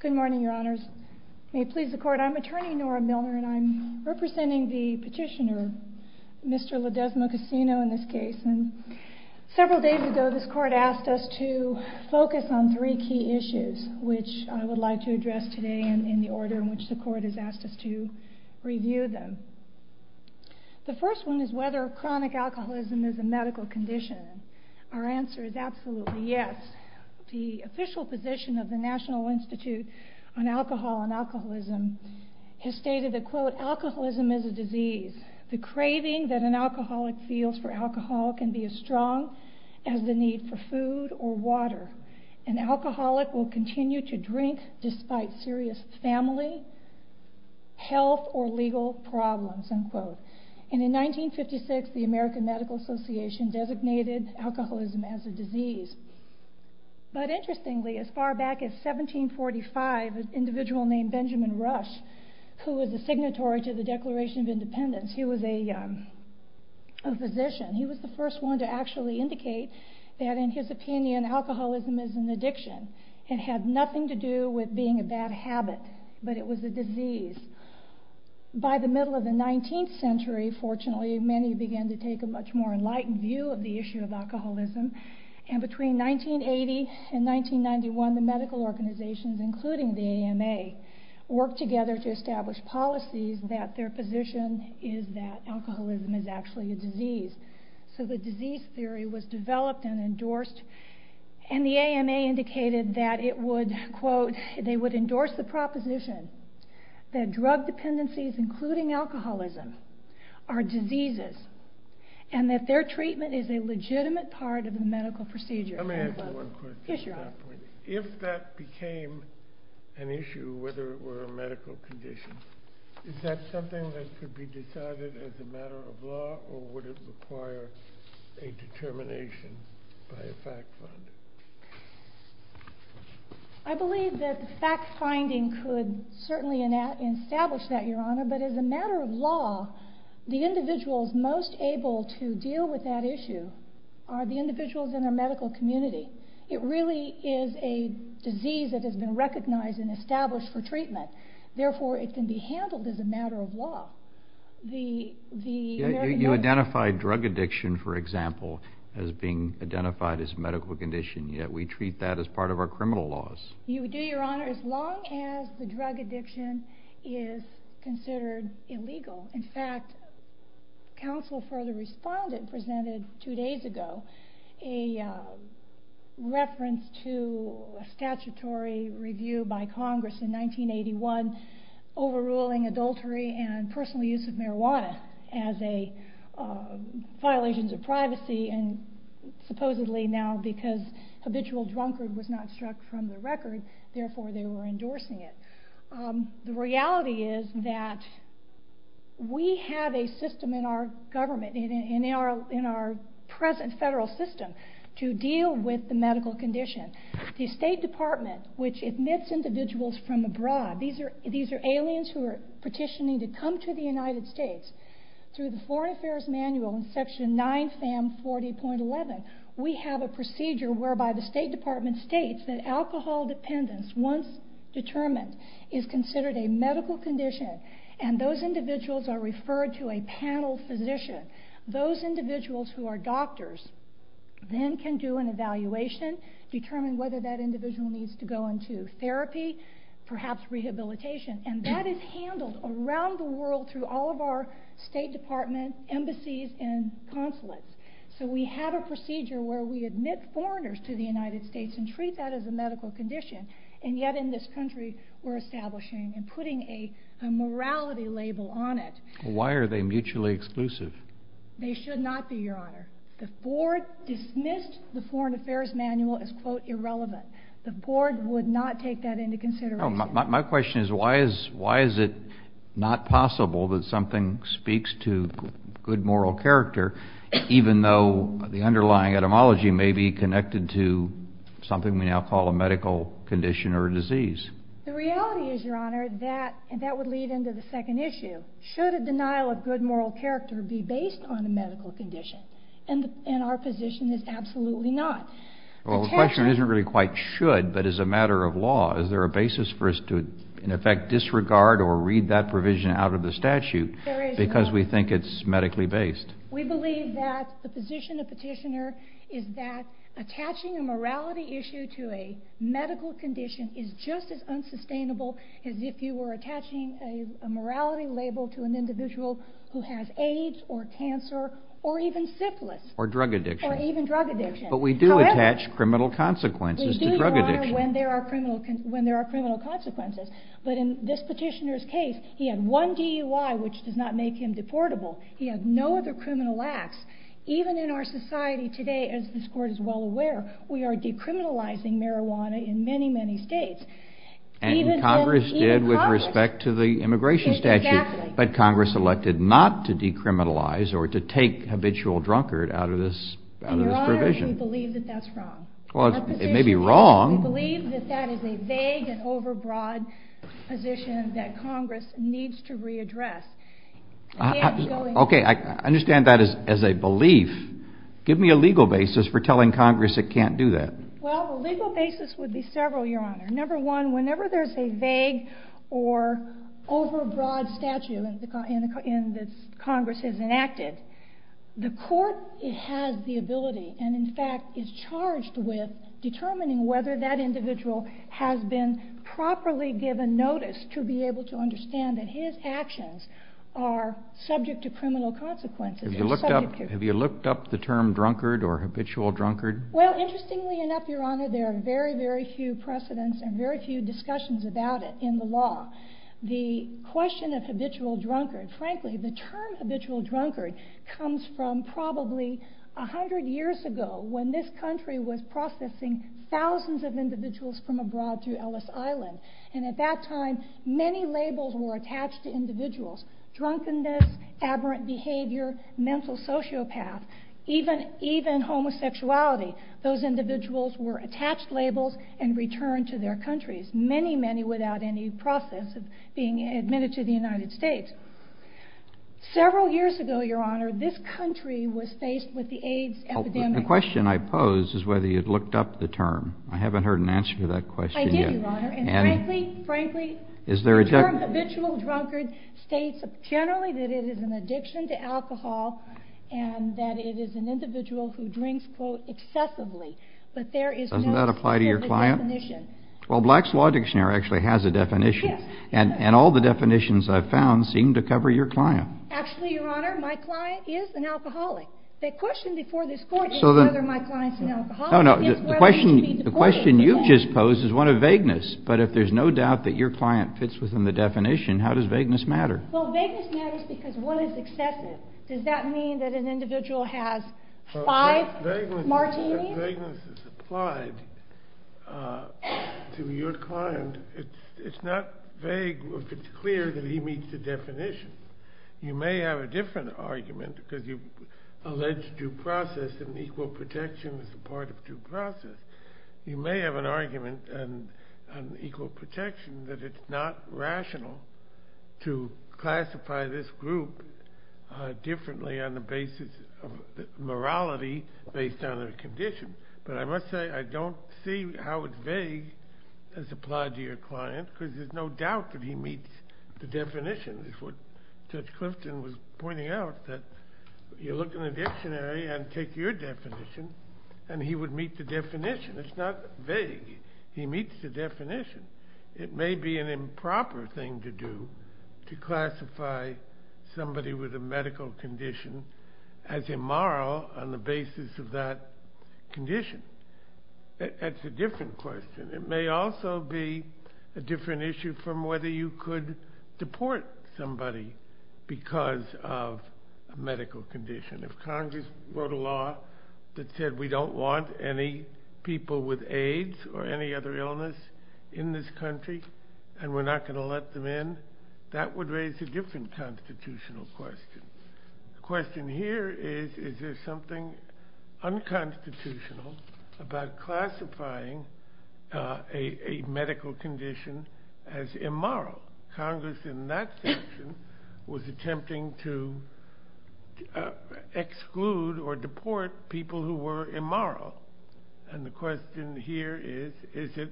Good morning, your honors. May it please the court, I'm attorney Nora Milner, and I'm representing the petitioner, Mr. Ledezma-Cosino, in this case. Several days ago, this court asked us to focus on three key issues, which I would like to address today in the order in which the court has asked us to review them. The first one is whether chronic alcoholism is a medical condition. Our answer is absolutely yes. The official position of the National Institute on Alcohol and Alcoholism has stated that, quote, alcoholism is a disease. The craving that an alcoholic feels for alcohol can be as strong as the need for food or water. An alcoholic will And in 1956, the American Medical Association designated alcoholism as a disease. But interestingly, as far back as 1745, an individual named Benjamin Rush, who was a signatory to the Declaration of Independence, he was a physician. He was the first one to actually indicate that, in his opinion, alcoholism is an addiction. It had fortunately, many began to take a much more enlightened view of the issue of alcoholism. And between 1980 and 1991, the medical organizations, including the AMA, worked together to establish policies that their position is that alcoholism is actually a disease. So the disease theory was developed and endorsed, and the AMA indicated that it are diseases, and that their treatment is a legitimate part of the medical procedure. Let me ask you one question. Yes, Your Honor. If that became an issue, whether it were a medical condition, is that something that could be decided as a matter of law, or would it require a determination by a fact finder? I believe that fact finding could certainly establish that, Your Honor. But as a matter of law, the individuals most able to deal with that issue are the individuals in the medical community. It really is a disease that has been recognized and established for treatment. Therefore, it can be handled as a matter of law. You identified drug addiction, for example, as being identified as a medical condition, yet we treat that as part of our criminal laws. You would do, Your Honor, as long as the drug addiction is considered illegal. In fact, counsel for the respondent presented two days ago a reference to a statutory review by Congress in 1981 overruling adultery and personal use of marijuana as violations of privacy, and supposedly now because habitual drunkard was not struck from the record, therefore they were endorsing it. The reality is that we have a system in our government, in our present federal system, to deal with the medical condition. The State Department, which admits individuals from abroad, these are aliens who are petitioning to come to the United States, through the Foreign Affairs Manual in Section 9FAM 40.11, we have a procedure whereby the State Department states that alcohol dependence, once determined, is considered a medical condition, and those individuals are referred to a panel physician. Those individuals who are doctors then can do an evaluation, determine whether that individual needs to go into therapy, perhaps rehabilitation, and that is handled around the world through all of our State Department embassies and consulates. So we have a procedure where we admit foreigners to the United States and treat that as a medical condition, and yet in this country we're establishing and putting a morality label on it. Why are they mutually exclusive? They should not be, Your Honor. The Board dismissed the Foreign Affairs Manual as, quote, irrelevant. The Board would not take that into consideration. My question is, why is it not possible that something speaks to good moral character, even though the underlying etymology may be connected to something we now call a medical condition or a disease? The reality is, Your Honor, that that would lead into the second issue. Should a denial of good moral character be based on a medical condition? And our position is absolutely not. Well, the question isn't really quite should, but is a matter of law. Is there a basis for us to, in effect, disregard or read that provision out of the statute because we think it's medically based? We believe that the position of petitioner is that attaching a morality issue to a medical condition is just as unsustainable as if you were attaching a morality label to an individual who has AIDS or cancer or even syphilis. Or drug addiction. Or even drug addiction. But we do attach criminal consequences to drug addiction. We do, Your Honor, when there are criminal consequences. But in this petitioner's case, he had one DUI, which does not make him deportable. He had no other criminal acts. Even in our society today, as this Court is well aware, we are decriminalizing marijuana in many, many states. And Congress did with respect to the immigration statute. Exactly. But Congress elected not to decriminalize or to take habitual drunkard out of this provision. And, Your Honor, we believe that that's wrong. It may be wrong. We believe that that is a vague and overbroad position that Congress needs to readdress. Okay, I understand that as a belief. Give me a legal basis for telling Congress it can't do that. Well, the legal basis would be several, Your Honor. Number one, whenever there's a vague or overbroad statute that Congress has enacted, the Court has the ability and, in fact, is charged with determining whether that individual has been properly given notice to be able to understand that his actions are subject to criminal consequences. Have you looked up the term drunkard or habitual drunkard? Well, interestingly enough, Your Honor, there are very, very few precedents and very few discussions about it in the law. The question of habitual drunkard, frankly, the term habitual drunkard comes from probably a hundred years ago when this country was processing thousands of individuals from abroad to Ellis Island. And at that time, many labels were attached to individuals, drunkenness, aberrant behavior, mental sociopath, even homosexuality. Those individuals were attached labels and returned to their countries, many, many without any process of being admitted to the United States. Several years ago, Your Honor, this country was faced with the AIDS epidemic. The question I pose is whether you had looked up the term. I haven't heard an answer to that question yet. Actually, Your Honor, and frankly, frankly, the term habitual drunkard states generally that it is an addiction to alcohol and that it is an individual who drinks, quote, excessively. But there is no definition. Doesn't that apply to your client? Well, Black's Law Dictionary actually has a definition. Yes. And all the definitions I've found seem to cover your client. Actually, Your Honor, my client is an alcoholic. The question before this Court is whether my client's an alcoholic. No, no. The question you just posed is one of vagueness. But if there's no doubt that your client fits within the definition, how does vagueness matter? Well, vagueness matters because one is excessive. Does that mean that an individual has five martinis? If vagueness is applied to your client, it's not vague if it's clear that he meets the definition. You may have a different argument because you've alleged due process and equal protection as a part of due process. You may have an argument on equal protection that it's not rational to classify this group differently on the basis of morality based on their condition. But I must say I don't see how it's vague as applied to your client because there's no doubt that he meets the definition. That's what Judge Clifton was pointing out, that you look in the dictionary and take your definition and he would meet the definition. It's not vague. He meets the definition. It may be an improper thing to do to classify somebody with a medical condition as immoral on the basis of that condition. That's a different question. It may also be a different issue from whether you could deport somebody because of a medical condition. If Congress wrote a law that said we don't want any people with AIDS or any other illness in this country and we're not going to let them in, that would raise a different constitutional question. The question here is, is there something unconstitutional about classifying a medical condition as immoral? Congress in that section was attempting to exclude or deport people who were immoral. The question here is, is it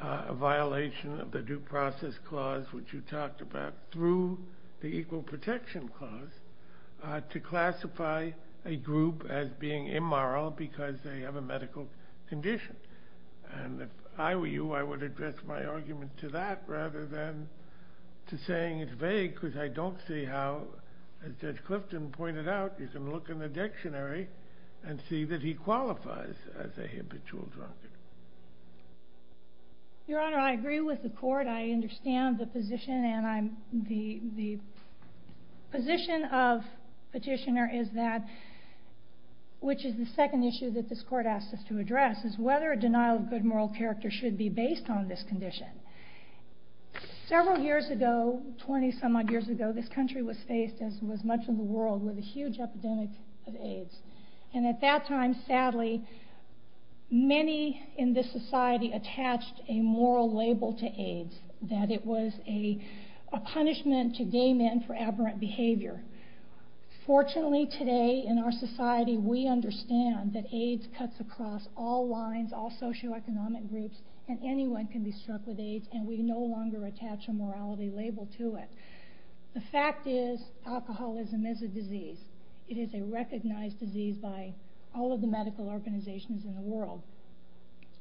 a violation of the due process clause which you talked about through the equal protection clause to classify a group as being immoral because they have a medical condition? If I were you, I would address my argument to that rather than to saying it's vague because I don't see how, as Judge Clifton pointed out, you can look in the dictionary and see that he qualifies as a habitual drunkard. Your Honor, I agree with the court. I understand the position and the position of petitioner is that, which is the second issue that this court asked us to address, is whether a denial of good moral character should be based on this condition. Several years ago, 20 some odd years ago, this country was faced, as was much of the world, with a huge epidemic of AIDS. At that time, sadly, many in this society attached a moral label to AIDS, that it was a punishment to gay men for aberrant behavior. Fortunately today, in our society, we understand that AIDS cuts across all lines, all socioeconomic groups, and anyone can be struck with AIDS, and we no longer attach a morality label to it. The fact is, alcoholism is a disease. It is a recognized disease by all of the medical organizations in the world.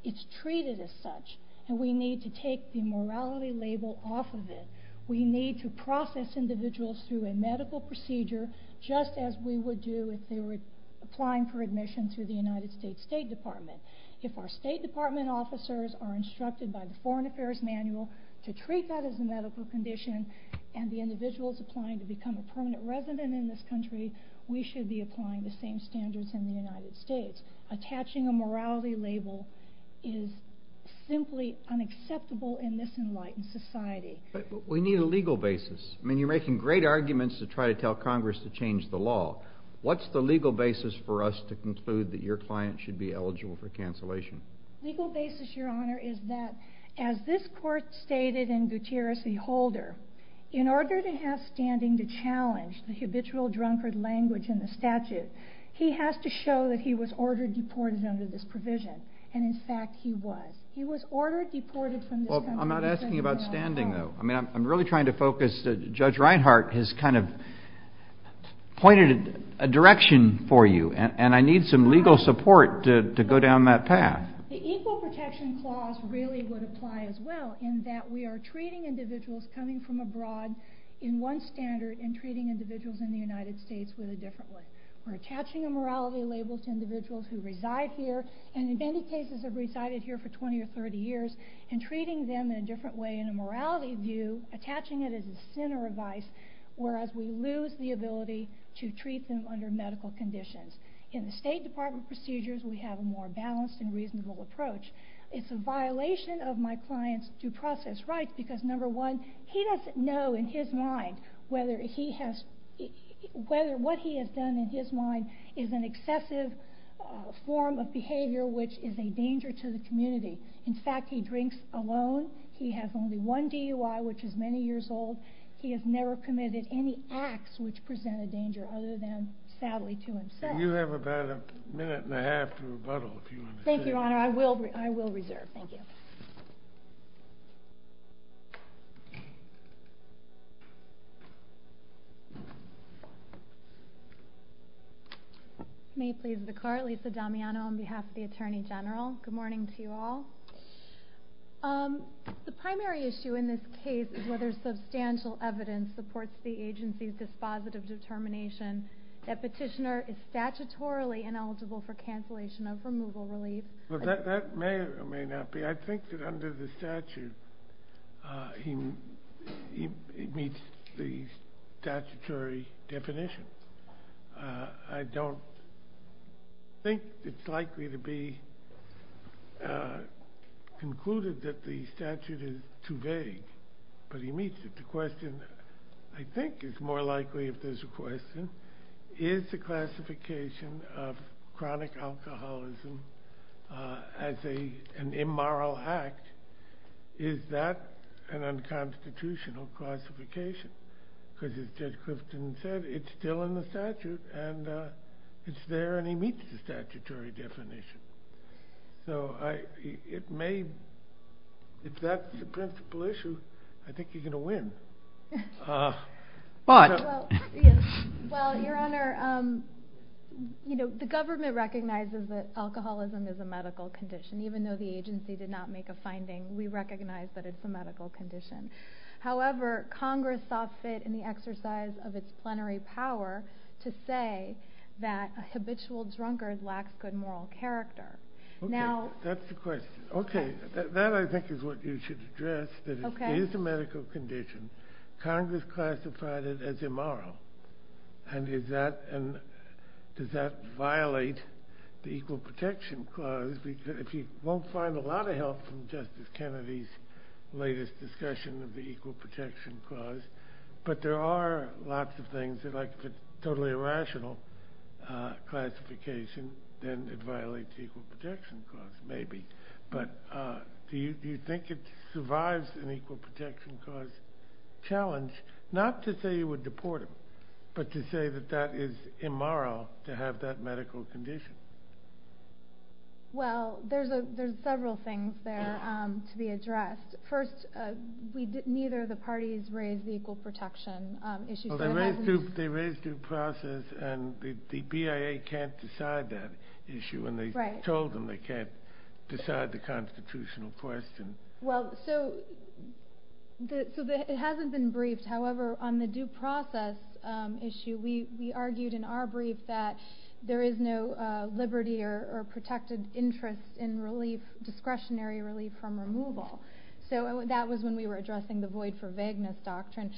It's treated as such, and we need to take the morality label off of it. We need to process individuals through a medical procedure, just as we would do if they were applying for admission through the United States State Department. If our State Department officers are instructed by the Foreign Affairs Manual to treat that as a medical condition, and the individual is applying to become a permanent resident in this country, we should be applying the same standards in the United States. Attaching a morality label is simply unacceptable in this enlightened society. But we need a legal basis. I mean, you're making great arguments to try to tell Congress to change the law. What's the legal basis for us to conclude that your client should be eligible for cancellation? The legal basis, Your Honor, is that, as this Court stated in Gutierrez v. Holder, in order to have standing to challenge the habitual drunkard language in the statute, he has to show that he was ordered deported under this provision. And, in fact, he was. He was ordered deported from this country. I'm not asking about standing, though. I mean, I'm really trying to focus. Judge Reinhart has kind of pointed a direction for you, and I need some legal support to go down that path. The Equal Protection Clause really would apply as well, in that we are treating individuals coming from abroad in one standard and treating individuals in the United States with a different one. We're attaching a morality label to individuals who reside here and, in many cases, have resided here for 20 or 30 years and treating them in a different way. In a morality view, attaching it is a sin or a vice, whereas we lose the ability to treat them under medical conditions. In the State Department procedures, we have a more balanced and reasonable approach. It's a violation of my client's due process rights because, number one, he doesn't know in his mind whether what he has done in his mind is an excessive form of behavior which is a danger to the community. In fact, he drinks alone. He has only one DUI, which is many years old. He has never committed any acts which present a danger other than, sadly to himself. You have about a minute and a half to rebuttal, if you want to say. Thank you, Your Honor. I will reserve. Thank you. May it please the Court, Lisa Damiano on behalf of the Attorney General. Good morning to you all. The primary issue in this case is whether substantial evidence supports the agency's dispositive determination that petitioner is statutorily ineligible for cancellation of removal relief. That may or may not be. I think that under the statute, it meets the statutory definition. I don't think it's likely to be concluded that the statute is too vague, but it meets it. The question, I think, is more likely if there's a question, is the classification of chronic alcoholism as an immoral act, is that an unconstitutional classification? As Judge Clifton said, it's still in the statute, and it's there, and it meets the statutory definition. If that's the principal issue, I think you're going to win. Your Honor, the government recognizes that alcoholism is a medical condition. Even though the agency did not make a finding, we recognize that it's a medical condition. However, Congress saw fit in the exercise of its plenary power to say that a habitual drunkard lacks good moral character. That's the question. That, I think, is what you should address, that it is a medical condition. Congress classified it as immoral. Does that violate the Equal Protection Clause? If you won't find a lot of help from Justice Kennedy's latest discussion of the Equal Protection Clause, but there are lots of things. If it's a totally irrational classification, then it violates the Equal Protection Clause, maybe. Do you think it survives an Equal Protection Clause challenge, not to say you would deport him, but to say that that is immoral to have that medical condition? Well, there's several things there to be addressed. First, neither of the parties raised the Equal Protection issue. They raised due process, and the BIA can't decide that issue, and they told them they can't decide the constitutional question. It hasn't been briefed. However, on the due process issue, we argued in our brief that there is no liberty or protected interest in discretionary relief from removal. That was when we were addressing the Void for Vagueness Doctrine.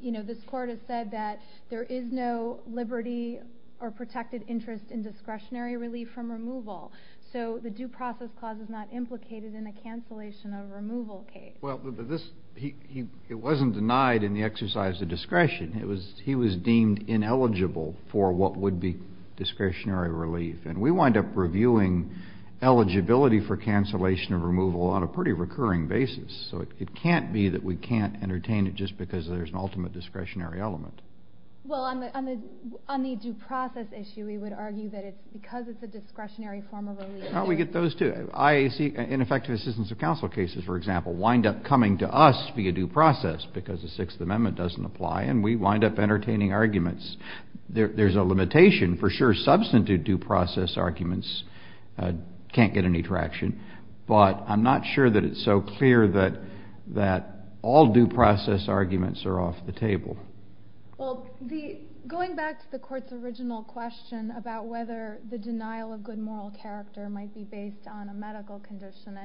You know, this Court has said that there is no liberty or protected interest in discretionary relief from removal. So the due process clause is not implicated in a cancellation of removal case. Well, but this — it wasn't denied in the exercise of discretion. It was — he was deemed ineligible for what would be discretionary relief. And we wind up reviewing eligibility for cancellation of removal on a pretty recurring basis. So it can't be that we can't entertain it just because there's an ultimate discretionary element. Well, on the due process issue, we would argue that it's because it's a discretionary form of relief. We get those, too. IAC and effective assistance of counsel cases, for example, wind up coming to us via due process because the Sixth Amendment doesn't apply, and we wind up entertaining arguments. There's a limitation, for sure. Substantive due process arguments can't get any traction. But I'm not sure that it's so clear that all due process arguments are off the table. Well, going back to the Court's original question about whether the denial of good moral character might be based on a medical condition,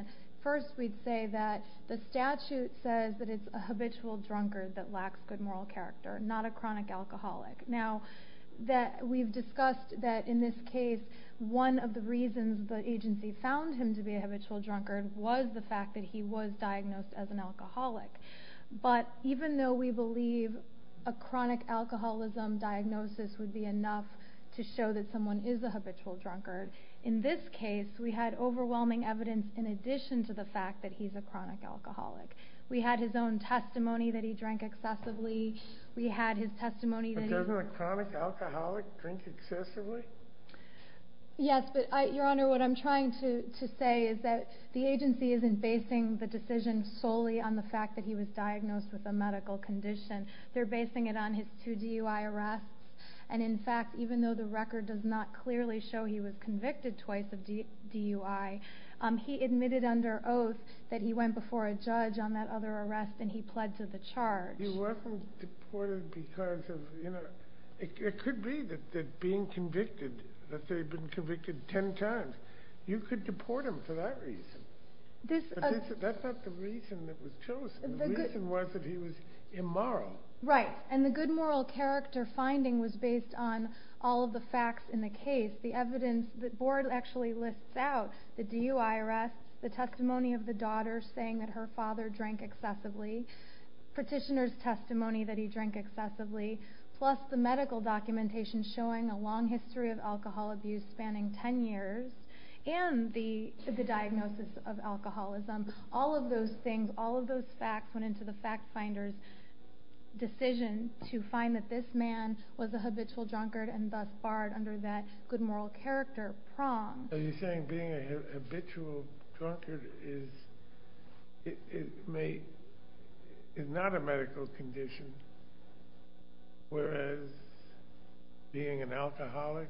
first we'd say that the statute says that it's a habitual drunkard that lacks good moral character, not a chronic alcoholic. Now, we've discussed that in this case one of the reasons the agency found him to be a habitual drunkard was the fact that he was diagnosed as an alcoholic. But even though we believe a chronic alcoholism diagnosis would be enough to show that someone is a habitual drunkard, in this case we had overwhelming evidence in addition to the fact that he's a chronic alcoholic. We had his own testimony that he drank excessively. But doesn't a chronic alcoholic drink excessively? Yes, but, Your Honor, what I'm trying to say is that the agency isn't basing the decision solely on the fact that he was diagnosed with a medical condition. They're basing it on his two DUI arrests. And, in fact, even though the record does not clearly show he was convicted twice of DUI, he admitted under oath that he went before a judge on that other arrest and he pled to the charge. He wasn't deported because of, you know, it could be that being convicted, that they'd been convicted ten times. You could deport him for that reason. But that's not the reason that was chosen. The reason was that he was immoral. Right, and the good moral character finding was based on all of the facts in the case. The evidence, the board actually lists out the DUI arrests, the testimony of the daughter saying that her father drank excessively, petitioner's testimony that he drank excessively, plus the medical documentation showing a long history of alcohol abuse spanning ten years, and the diagnosis of alcoholism. All of those things, all of those facts went into the fact finder's decision to find that this man was a habitual drunkard and thus barred under that good moral character prong. Are you saying being a habitual drunkard is not a medical condition whereas being an alcoholic,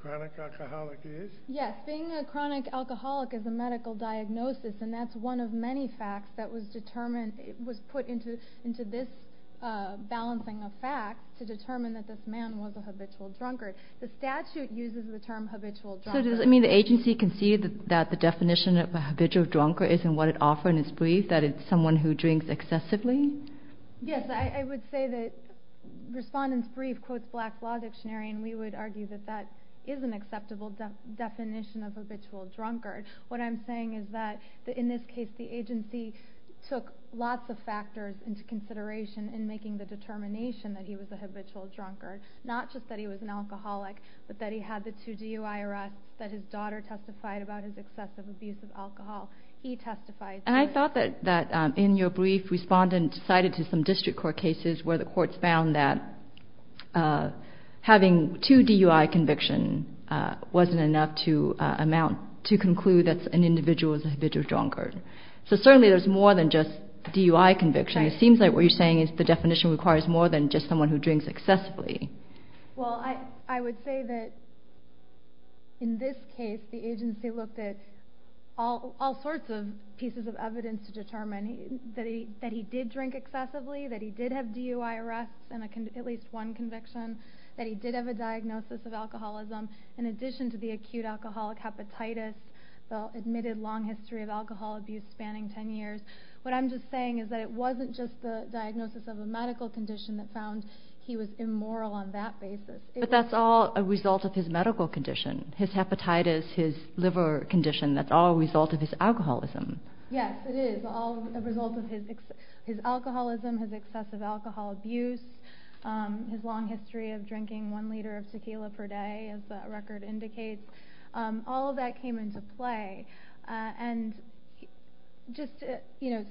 chronic alcoholic is? Yes, being a chronic alcoholic is a medical diagnosis and that's one of many facts that was determined, was put into this balancing of facts to determine that this man was a habitual drunkard. The statute uses the term habitual drunkard. So does it mean the agency can see that the definition of a habitual drunkard isn't what it offers in its brief, that it's someone who drinks excessively? Yes, I would say that Respondent's Brief quotes Black's Law Dictionary and we would argue that that is an acceptable definition of habitual drunkard. What I'm saying is that in this case the agency took lots of factors into consideration in making the determination that he was a habitual drunkard, not just that he was an alcoholic but that he had the two DUI arrests, that his daughter testified about his excessive abuse of alcohol. He testified. And I thought that in your brief Respondent cited to some district court cases where the courts found that having two DUI convictions wasn't enough to conclude that an individual was a habitual drunkard. So certainly there's more than just DUI convictions. It seems like what you're saying is the definition requires more than just someone who drinks excessively. Well, I would say that in this case the agency looked at all sorts of pieces of evidence to determine that he did drink excessively, that he did have DUI arrests and at least one conviction, that he did have a diagnosis of alcoholism in addition to the acute alcoholic hepatitis, the admitted long history of alcohol abuse spanning ten years. What I'm just saying is that it wasn't just the diagnosis of a medical condition that found he was immoral on that basis. But that's all a result of his medical condition. His hepatitis, his liver condition, that's all a result of his alcoholism. Yes, it is all a result of his alcoholism, his excessive alcohol abuse, his long history of drinking one liter of tequila per day, as the record indicates. All of that came into play. And just to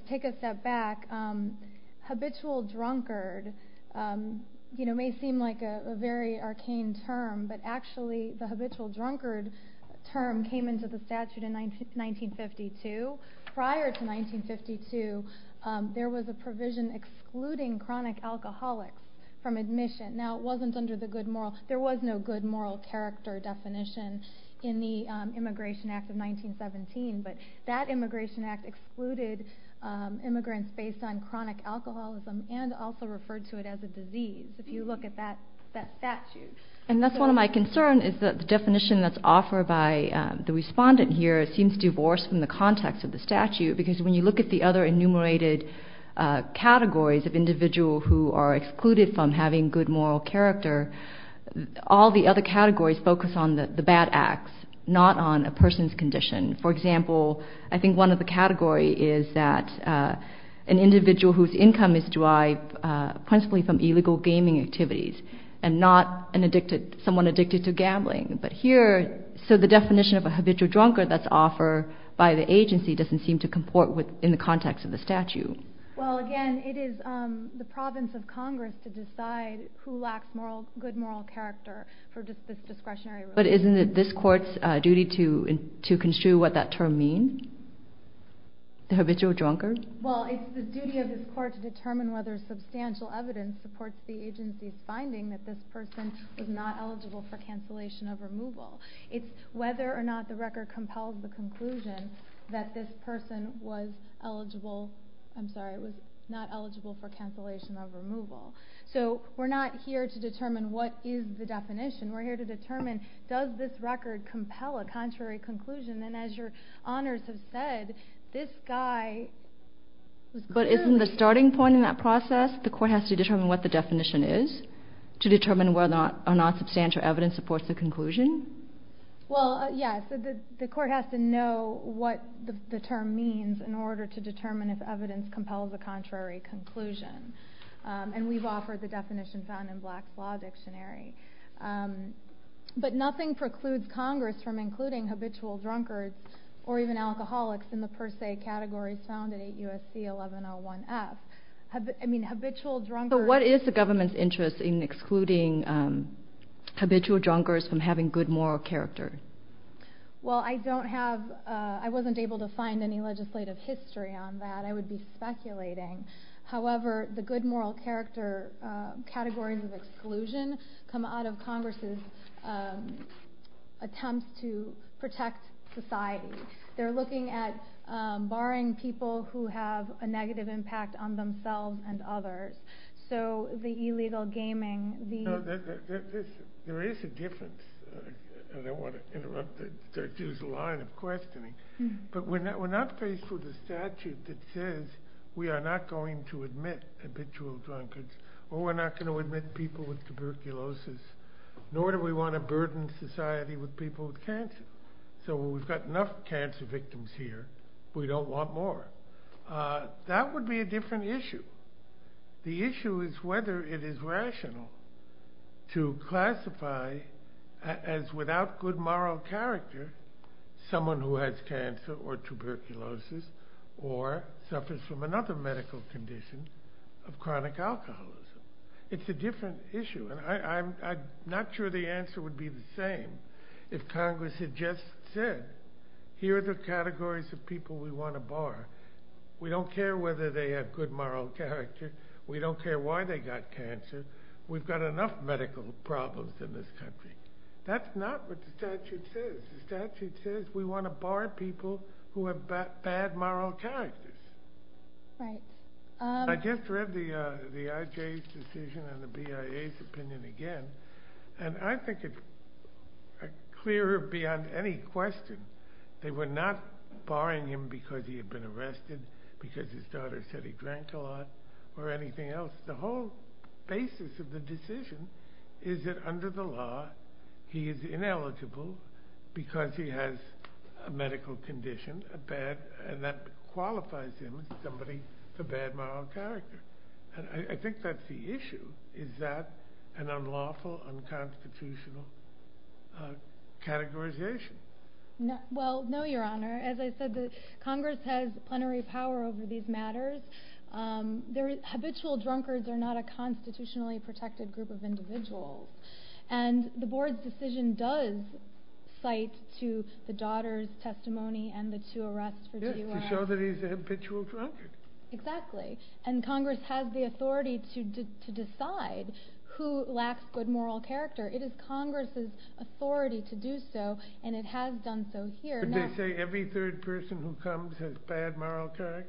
take a step back, habitual drunkard may seem like a very arcane term, but actually the habitual drunkard term came into the statute in 1952. Prior to 1952, there was a provision excluding chronic alcoholics from admission. There was no good moral character definition in the Immigration Act of 1917, but that Immigration Act excluded immigrants based on chronic alcoholism and also referred to it as a disease, if you look at that statute. And that's one of my concerns, is that the definition that's offered by the respondent here seems divorced from the context of the statute, because when you look at the other enumerated categories of individuals who are excluded from having good moral character, all the other categories focus on the bad acts, not on a person's condition. For example, I think one of the categories is that an individual whose income is derived principally from illegal gaming activities and not someone addicted to gambling. But here, so the definition of a habitual drunkard that's offered by the agency doesn't seem to comport in the context of the statute. Well, again, it is the province of Congress to decide who lacks good moral character for this discretionary rule. But isn't it this court's duty to construe what that term means? The habitual drunkard? Well, it's the duty of this court to determine whether substantial evidence supports the agency's finding that this person is not eligible for cancellation of removal. It's whether or not the record compels the conclusion that this person was eligible I'm sorry, was not eligible for cancellation of removal. So we're not here to determine what is the definition. We're here to determine, does this record compel a contrary conclusion? And as your honors have said, this guy... But isn't the starting point in that process, the court has to determine what the definition is to determine whether or not substantial evidence supports the conclusion? Well, yes, the court has to know what the term means in order to determine if evidence compels a contrary conclusion. And we've offered the definition found in Black's Law Dictionary. But nothing precludes Congress from including habitual drunkards or even alcoholics in the per se categories found in 8 U.S.C. 1101F. So what is the government's interest in excluding habitual drunkards from having good moral character? Well, I wasn't able to find any legislative history on that. I would be speculating. However, the good moral character categories of exclusion come out of Congress's attempts to protect society. They're looking at barring people who have a negative impact on themselves and others. So the illegal gaming, the... No, there is a difference. I don't want to interrupt the line of questioning. But we're not faced with a statute that says we are not going to admit habitual drunkards or we're not going to admit people with tuberculosis. Nor do we want to burden society with people with cancer. So we've got enough cancer victims here. We don't want more. That would be a different issue. The issue is whether it is rational to classify as without good moral character someone who has cancer or tuberculosis or suffers from another medical condition of chronic alcoholism. It's a different issue. And I'm not sure the answer would be the same if Congress had just said, here are the categories of people we want to bar. We don't care whether they have good moral character. We don't care why they got cancer. We've got enough medical problems in this country. That's not what the statute says. The statute says we want to bar people who have bad moral characters. Right. I just read the IJ's decision and the BIA's opinion again. And I think it's clearer beyond any question. They were not barring him because he had been arrested, because his daughter said he drank a lot, or anything else. The whole basis of the decision is that under the law, he is ineligible because he has a medical condition and that qualifies him as somebody with a bad moral character. I think that's the issue. Is that an unlawful, unconstitutional categorization? Well, no, Your Honor. As I said, Congress has plenary power over these matters. Habitual drunkards are not a constitutionally protected group of individuals. And the board's decision does cite to the daughter's testimony and the two arrests for DUI. To show that he's a habitual drunkard. Exactly. And Congress has the authority to decide who lacks good moral character. It is Congress's authority to do so, and it has done so here. Could they say every third person who comes has bad moral character?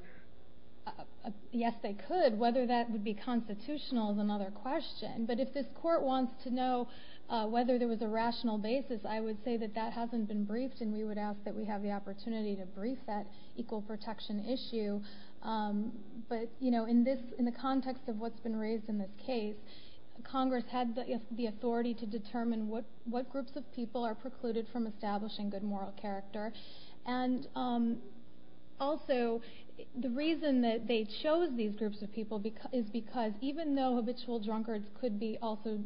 Yes, they could. Whether that would be constitutional is another question. But if this court wants to know whether there was a rational basis, I would say that that hasn't been briefed, and we would ask that we have the opportunity to brief that equal protection issue. But in the context of what's been raised in this case, Congress had the authority to determine what groups of people are precluded from establishing good moral character. And also, the reason that they chose these groups of people is because, even though habitual drunkards could be also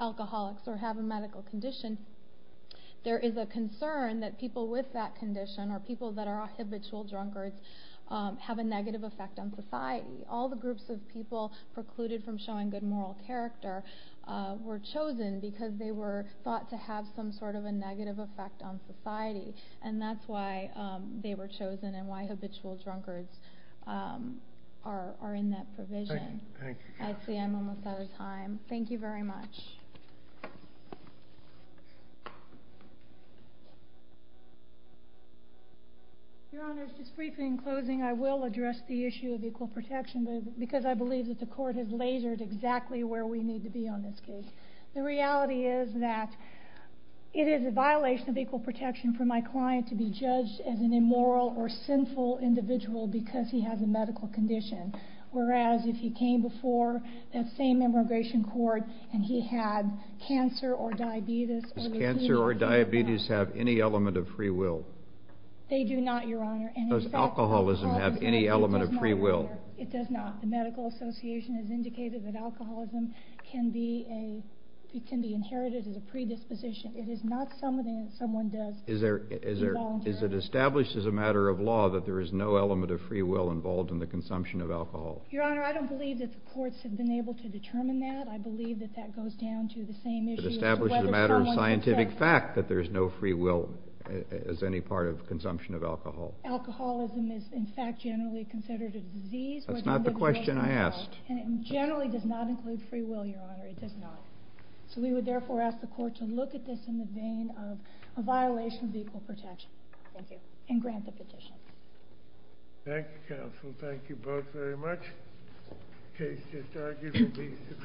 alcoholics or have a medical condition, there is a concern that people with that condition or people that are habitual drunkards have a negative effect on society. All the groups of people precluded from showing good moral character were chosen because they were thought to have some sort of a negative effect on society, and that's why they were chosen and why habitual drunkards are in that provision. Thank you. I see I'm almost out of time. Thank you very much. Your Honor, just briefly in closing, I will address the issue of equal protection because I believe that the court has lasered exactly where we need to be on this case. The reality is that it is a violation of equal protection for my client to be judged as an immoral or sinful individual because he has a medical condition, whereas if he came before that same immigration court and he had cancer or diabetes or leukemia. Does cancer or diabetes have any element of free will? They do not, Your Honor. Does alcoholism have any element of free will? It does not, Your Honor. It does not. The Medical Association has indicated that alcoholism can be inherited as a predisposition. It is not something that someone does involuntarily. Is it established as a matter of law that there is no element of free will involved in the consumption of alcohol? Your Honor, I don't believe that the courts have been able to determine that. I believe that that goes down to the same issue as whether someone can say— Is it established as a matter of scientific fact that there is no free will as any part of consumption of alcohol? Alcoholism is, in fact, generally considered a disease— That's not the question I asked. —and it generally does not include free will, Your Honor. It does not. So we would therefore ask the court to look at this in the vein of a violation of equal protection. Thank you. And grant the petition. Thank you, counsel. Thank you both very much. The case just argued will be submitted.